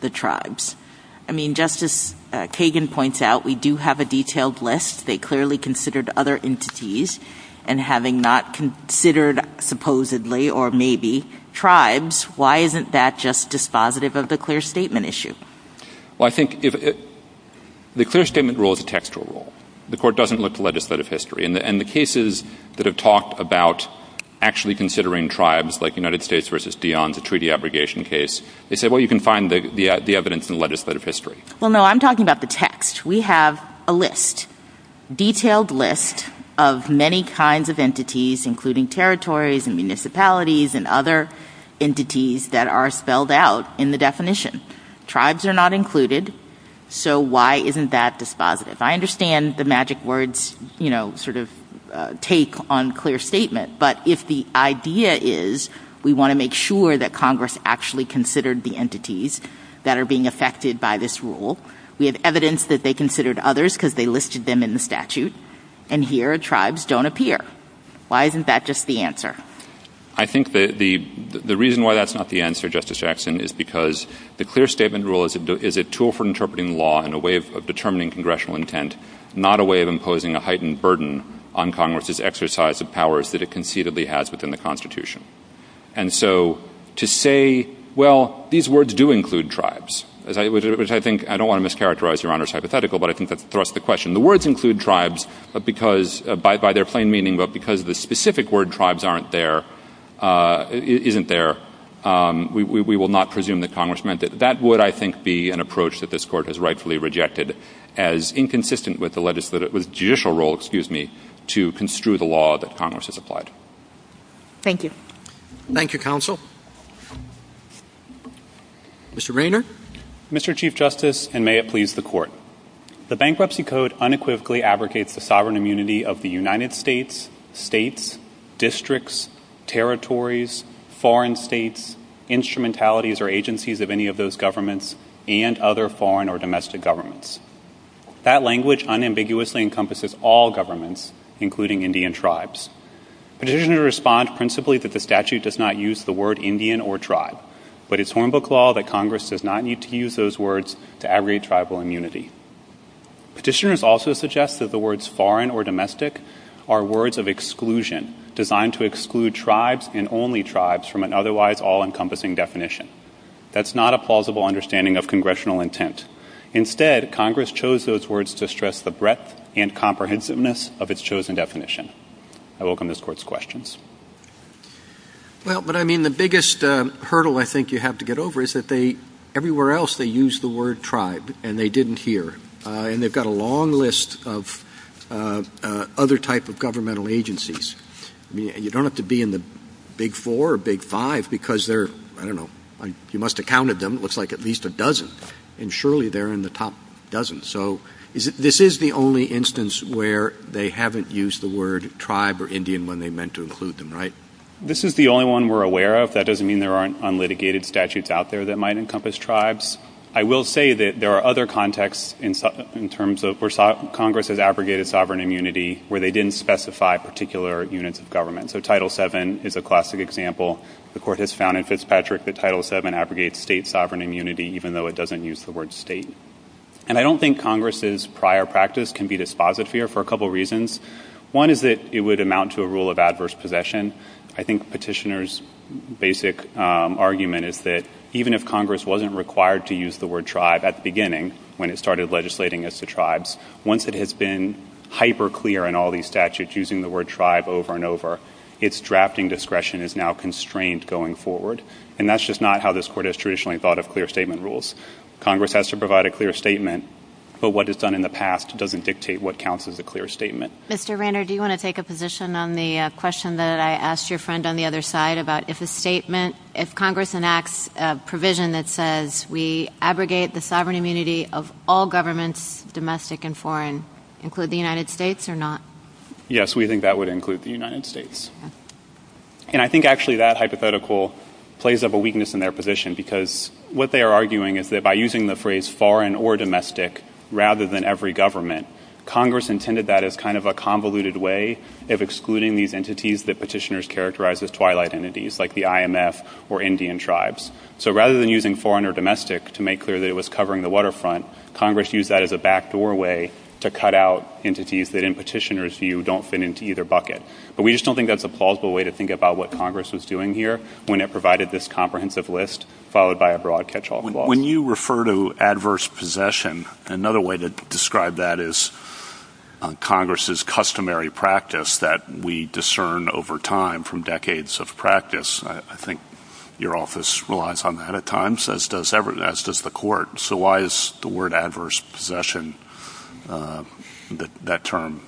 the tribes? I mean, Justice Kagan points out we do have a detailed list. They clearly considered other entities, and having not considered supposedly or maybe tribes, why isn't that just dispositive of the clear statement issue? Well, I think if — the clear statement rule is a textual rule. The Court doesn't look to legislative history, and the cases that have talked about actually considering tribes, like United States v. Dionne's, a treaty abrogation case, they say, well, you can find the evidence in legislative history. Well, no, I'm talking about the text. We have a list, detailed list, of many kinds of entities, including territories and municipalities and other entities that are spelled out in the definition. Tribes are not included, so why isn't that dispositive? I understand the magic words, you know, sort of take on clear statement, but if the idea is we want to make sure that Congress actually considered the entities that are being affected by this rule, we have evidence that they considered others because they listed them in the statute, and here tribes don't appear, why isn't that just the answer? I think the reason why that's not the answer, Justice Jackson, is because the clear statement rule is a tool for interpreting law in a way of determining congressional intent, not a way of imposing a heightened burden on Congress's exercise of powers that it conceitedly has within the Constitution. And so to say, well, these words do include tribes, which I think, I don't want to mischaracterize Your Honor's hypothetical, but I think that's the thrust of the question. The words include tribes because, by their plain meaning, but because the specific word tribes aren't there, isn't there, we will not presume that Congress meant it. That would, I think, be an approach that this Court has rightfully rejected as inconsistent with the judicial role, excuse me, to construe the law that Congress has applied. Thank you. Thank you, Counsel. Mr. Raynor. Mr. Chief Justice, and may it please the Court. The Bankruptcy Code unequivocally abrogates the sovereign immunity of the United States, states, districts, territories, foreign states, instrumentalities or agencies of any of those governments, and other foreign or domestic governments. That language unambiguously encompasses all governments, including Indian tribes. Petitioners respond principally that the statute does not use the word Indian or tribe, but it's Hornbook law that Congress does not need to use those words to abrogate tribal immunity. Petitioners also suggest that the words foreign or domestic are words of exclusion, designed to exclude tribes and only tribes from an otherwise all-encompassing definition. That's not a plausible understanding of Congressional intent. Instead, Congress chose those words to stress the breadth and comprehensiveness of its chosen definition. I welcome this Court's questions. Well, but I mean, the biggest hurdle I think you have to get over is that they, everywhere else, they use the word tribe, and they didn't here. And they've got a long list of other type of governmental agencies. You don't have to be in the big four or big five, because they're, I don't know, you must have counted them, it looks like at least a dozen. And surely they're in the top dozen. So this is the only instance where they haven't used the word tribe or Indian when they meant to include them, right? This is the only one we're aware of. That doesn't mean there aren't unlitigated statutes out there that might encompass tribes. I will say that there are other contexts in terms of where Congress has abrogated sovereign immunity where they didn't specify particular units of government. So Title VII is a classic example. The Court has found in Fitzpatrick that Title VII abrogates state sovereign immunity, even though it doesn't use the word state. And I don't think Congress's prior practice can be dispositive here for a couple reasons. One is that it would amount to a rule of adverse possession. I think Petitioner's basic argument is that even if Congress wasn't required to use the word tribe at the beginning when it started legislating as to tribes, once it has been hyper clear in all these statutes using the word tribe over and over, its drafting discretion is now constrained going forward. And that's just not how this Court has traditionally thought of clear statement rules. Congress has to provide a clear statement, but what it's done in the past doesn't dictate what counts as a clear statement. Mr. Rander, do you want to take a position on the question that I asked your friend on the other side about if a statement, if Congress enacts a provision that says we abrogate the sovereign immunity of all governments, domestic and foreign, include the United States or not? Yes, we think that would include the United States. And I think actually that hypothetical plays up a weakness in their position because what they are arguing is that by using the phrase foreign or domestic rather than every government, Congress intended that as kind of a convoluted way of excluding these entities that Petitioner's characterized as twilight entities like the IMF or Indian tribes. So rather than using foreign or domestic to make clear that it was covering the waterfront, Congress used that as a back doorway to cut out entities that in Petitioner's view don't fit into either bucket. But we just don't think that's a plausible way to think about what Congress was doing here when it provided this comprehensive list followed by a broad catch-all clause. When you refer to adverse possession, another way to describe that is Congress's customary practice that we discern over time from decades of practice. I think your office relies on that at times, as does the court. So why is the word adverse possession, that term,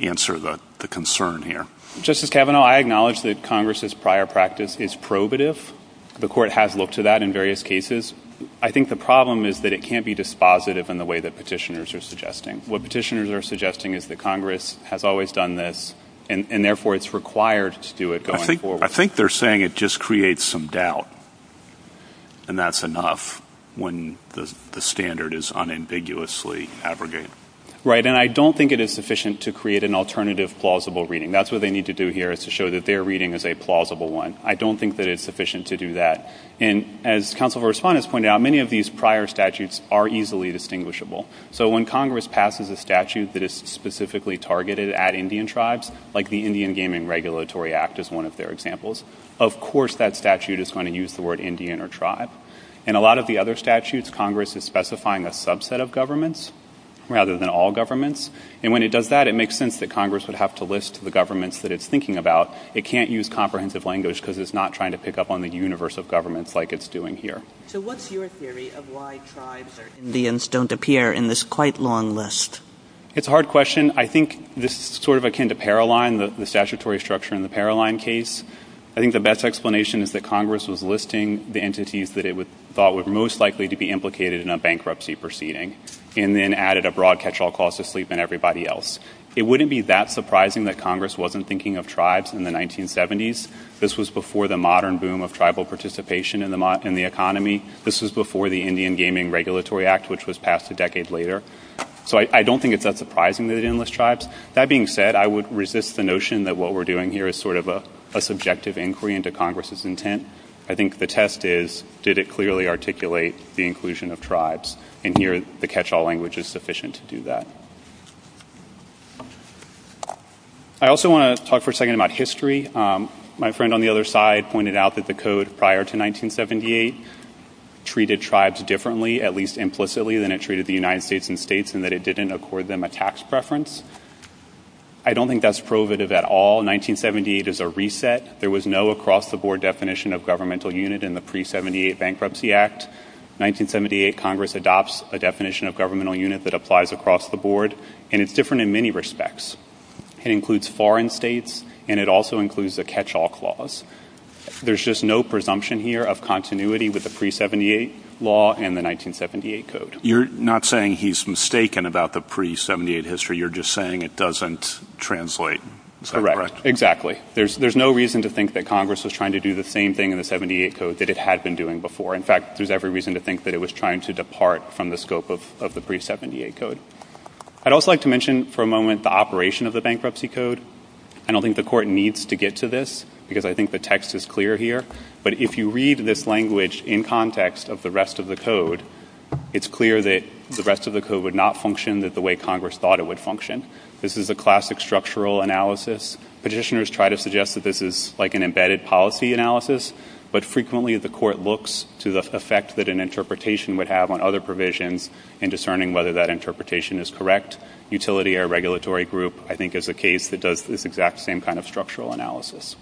answer the concern here? Justice Kavanaugh, I acknowledge that Congress's prior practice is probative. The court has looked to that in various cases. I think the problem is that it can't be dispositive in the way that Petitioner's are suggesting. What Petitioner's are suggesting is that Congress has always done this and therefore it's required to do it going forward. I think they're saying it just creates some doubt. And that's enough when the standard is unambiguously abrogated. Right. And I don't think it is sufficient to create an alternative plausible reading. That's what they need to do here is to show that their reading is a plausible one. I don't think that it's sufficient to do that. And as counsel for respondents pointed out, many of these prior statutes are easily distinguishable. So when Congress passes a statute that is specifically targeted at Indian tribes, like the Indian Gaming Regulatory Act is one of their examples, of course that statute is going to use the word Indian or tribe. And a lot of the other statutes, Congress is specifying a subset of governments rather than all governments. And when it does that, it makes sense that Congress would have to list the governments that it's thinking about. It can't use comprehensive language because it's not trying to pick up on the universe of governments like it's doing here. So what's your theory of why tribes or Indians don't appear in this quite long list? It's a hard question. I think this is sort of akin to Paroline, the statutory structure in the Paroline case. I think the best explanation is that Congress was listing the entities that it thought were most likely to be implicated in a bankruptcy proceeding and then added a broad catch-all clause to sleep and everybody else. It wouldn't be that surprising that Congress wasn't thinking of tribes in the 1970s. This was before the modern boom of tribal participation in the economy. This was before the Indian Gaming Regulatory Act, which was passed a decade later. So I don't think it's that surprising that it didn't list tribes. That being said, I would resist the notion that what we're doing here is sort of a subjective inquiry into Congress's intent. I think the test is, did it clearly articulate the inclusion of tribes? And here, the catch-all language is sufficient to do that. I also want to talk for a second about history. My friend on the other side pointed out that the code prior to 1978 treated tribes differently, at least implicitly, than it treated the United States and states and that it didn't accord them a tax preference. I don't think that's provative at all. 1978 is a reset. There was no across-the-board definition of governmental unit in the pre-'78 Bankruptcy Act. 1978, Congress adopts a definition of governmental unit that applies across the board, and it's different in many respects. It includes foreign states, and it also includes a catch-all clause. There's just no presumption here of continuity with the pre-'78 law and the 1978 Code. You're not saying he's mistaken about the pre-'78 history. You're just saying it doesn't translate. Is that correct? Exactly. There's no reason to think that Congress was trying to do the same thing in the 78 Code that it had been doing before. In fact, there's every reason to think that it was trying to depart from the scope of the pre-'78 Code. I'd also like to mention for a moment the operation of the Bankruptcy Code. I don't think the Court needs to get to this because I think the text is clear here, but if you read this language in context of the rest of the Code, it's clear that the rest of the Code would not function the way Congress thought it would function. This is a classic structural analysis. Petitioners try to suggest that this is like an embedded policy analysis, but frequently the Court looks to the effect that an interpretation would have on other provisions in discerning whether that interpretation is correct. Utility or regulatory group, I think, is a case that does this exact same kind of structural analysis.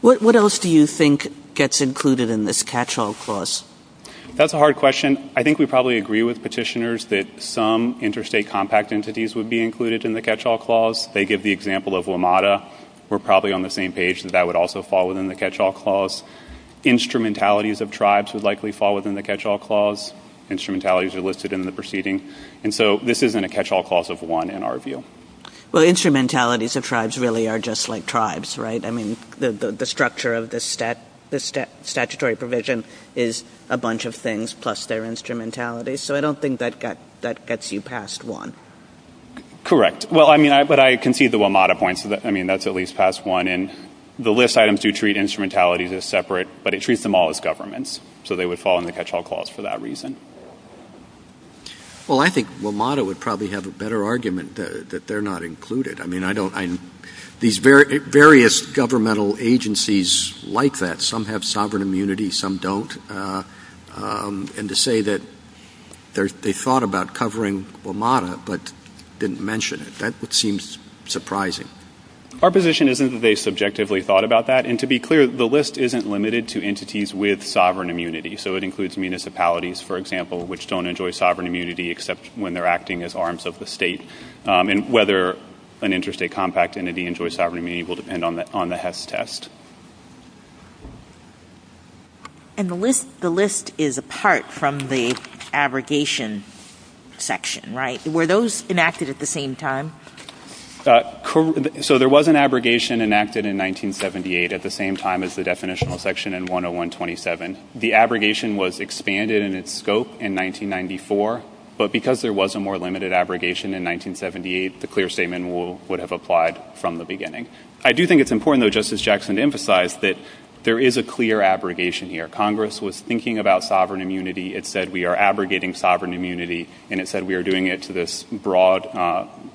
What else do you think gets included in this catch-all clause? That's a hard question. I think we probably agree with petitioners that some interstate compact entities would be included in the catch-all clause. They give the example of WMATA. We're probably on the same page that that would also fall within the catch-all clause. Instrumentalities of tribes would likely fall within the catch-all clause. Instrumentalities are listed in the proceeding. And so this isn't a catch-all clause of one in our view. Well, instrumentalities of tribes really are just like tribes, right? I mean, the structure of the statutory provision is a bunch of things plus their instrumentality, so I don't think that gets you past one. Correct. Well, I mean, but I concede the WMATA points. I mean, that's at least past one. And the list items do treat instrumentalities as separate, but it treats them all as governments. So they would fall in the catch-all clause for that reason. Well, I think WMATA would probably have a better argument that they're not included. I mean, these various governmental agencies like that, some have sovereign immunity, some don't. And to say that they thought about covering WMATA but didn't mention it, that would seem surprising. Our position isn't that they subjectively thought about that. And to be clear, the list isn't limited to entities with sovereign immunity. So it includes municipalities, for example, which don't enjoy sovereign immunity except when they're acting as arms of the state. And whether an interstate compact entity enjoys sovereign immunity will depend on the HES test. And the list is apart from the abrogation section, right? Were those enacted at the same time? Correct. So there was an abrogation enacted in 1978 at the same time as the definitional section in 101-27. The abrogation was expanded in its scope in 1994. But because there was a more limited abrogation in 1978, the clear statement would have applied from the beginning. There is a clear abrogation here. Congress was thinking about sovereign immunity. It said we are abrogating sovereign immunity. And it said we are doing it to this broad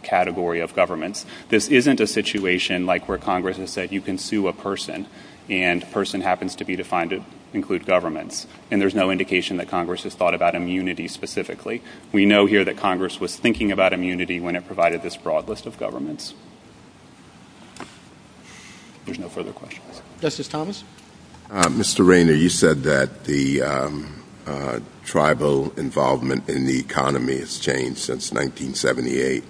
category of governments. This isn't a situation like where Congress has said you can sue a person, and person happens to be defined to include governments. And there's no indication that Congress has thought about immunity specifically. We know here that Congress was thinking about immunity when it provided this broad list of governments. There's no further questions. Justice Thomas? Mr. Rayner, you said that the tribal involvement in the economy has changed since 1978.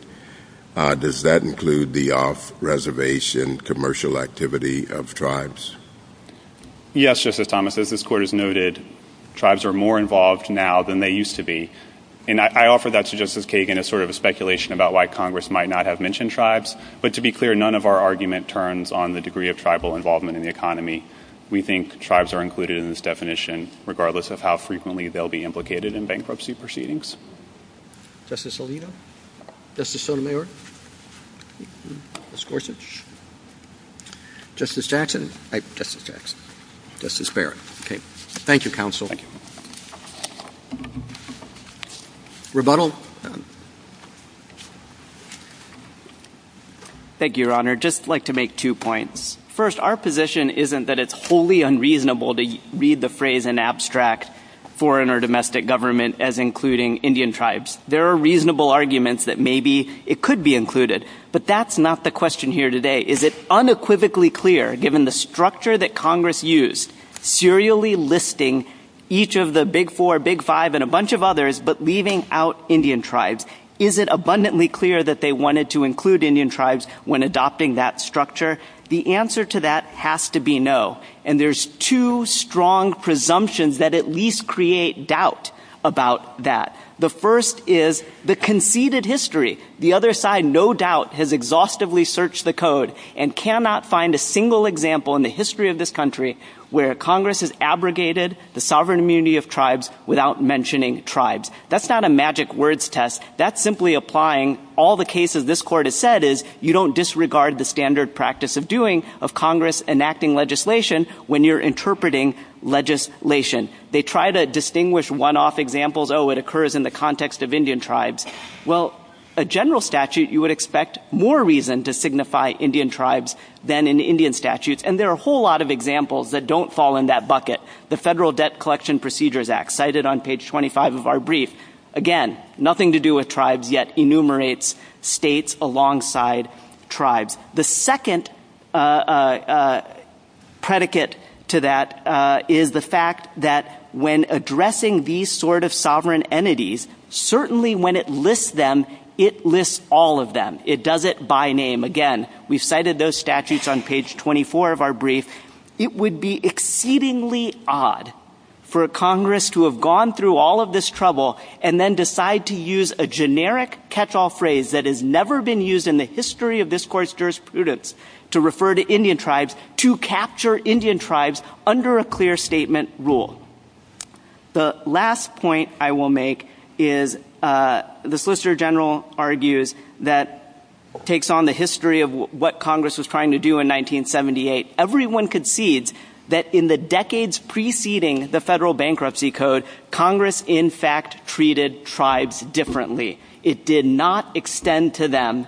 Does that include the off-reservation commercial activity of tribes? Yes, Justice Thomas. As this Court has noted, tribes are more involved now than they used to be. And I offer that to Justice Kagan as sort of a speculation about why Congress might not have mentioned tribes. But to be clear, none of our argument turns on the degree of tribal involvement in the economy. We think tribes are included in this definition, regardless of how frequently they'll be implicated in bankruptcy proceedings. Justice Alito? Justice Sotomayor? Ms. Gorsuch? Justice Jackson? Justice Barrett? Thank you, counsel. Rebuttal? Thank you, Your Honor. Just like to make two points. First, our position isn't that it's wholly unreasonable to read the phrase in abstract foreign or domestic government as including Indian tribes. There are reasonable arguments that maybe it could be included. But that's not the question here today. Is it unequivocally clear, given the structure that Congress used, serially listing each of the Big Four, Big Five, and a bunch of others, but leaving out Indian tribes? Is it abundantly clear that they wanted to include Indian tribes when adopting that structure? The answer to that has to be no. And there's two strong presumptions that at least create doubt about that. The first is the conceded history. The other side, no doubt, has exhaustively searched the code and cannot find a single example in the history of this country where Congress has abrogated the sovereign immunity of tribes without mentioning tribes. That's not a magic words test. That's simply applying all the cases this Court has said is you don't disregard the standard practice of doing, of Congress enacting legislation when you're interpreting legislation. They try to distinguish one-off examples. Oh, it occurs in the context of Indian tribes. Well, a general statute, you would expect more reason to signify Indian tribes than in Indian statutes. And there are a whole lot of examples that don't fall in that bucket. The Federal Debt Collection Procedures Act, cited on page 25 of our brief, again, nothing to do with tribes, yet enumerates states alongside tribes. The second predicate to that is the fact that when addressing these sort of sovereign entities, certainly when it lists them, it lists all of them. It does it by name. Again, we've cited those statutes on page 24 of our brief. It would be exceedingly odd for a Congress to have gone through all of this trouble and then decide to use a generic catch-all phrase that has never been used in the history of this Court's jurisprudence to refer to Indian tribes, to capture Indian tribes under a clear statement rule. The last point I will make is the Solicitor General argues that it takes on the history of what Congress was trying to do in 1978. Everyone concedes that in the decades preceding the Federal Bankruptcy Code, Congress, in fact, treated tribes differently. It did not extend to them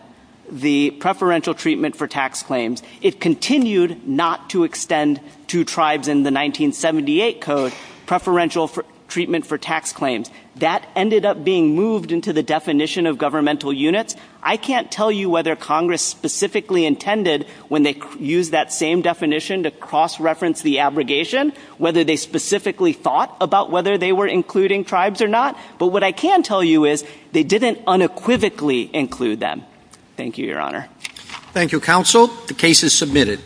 the preferential treatment for tax claims. It continued not to extend to tribes in the 1978 Code preferential treatment for tax claims. That ended up being moved into the definition of governmental units. I can't tell you whether Congress specifically intended, when they used that same definition to cross-reference the abrogation, whether they specifically thought about whether they were including tribes or not. But what I can tell you is they didn't unequivocally include them. Thank you, Your Honor. Thank you, Counsel. The case is submitted.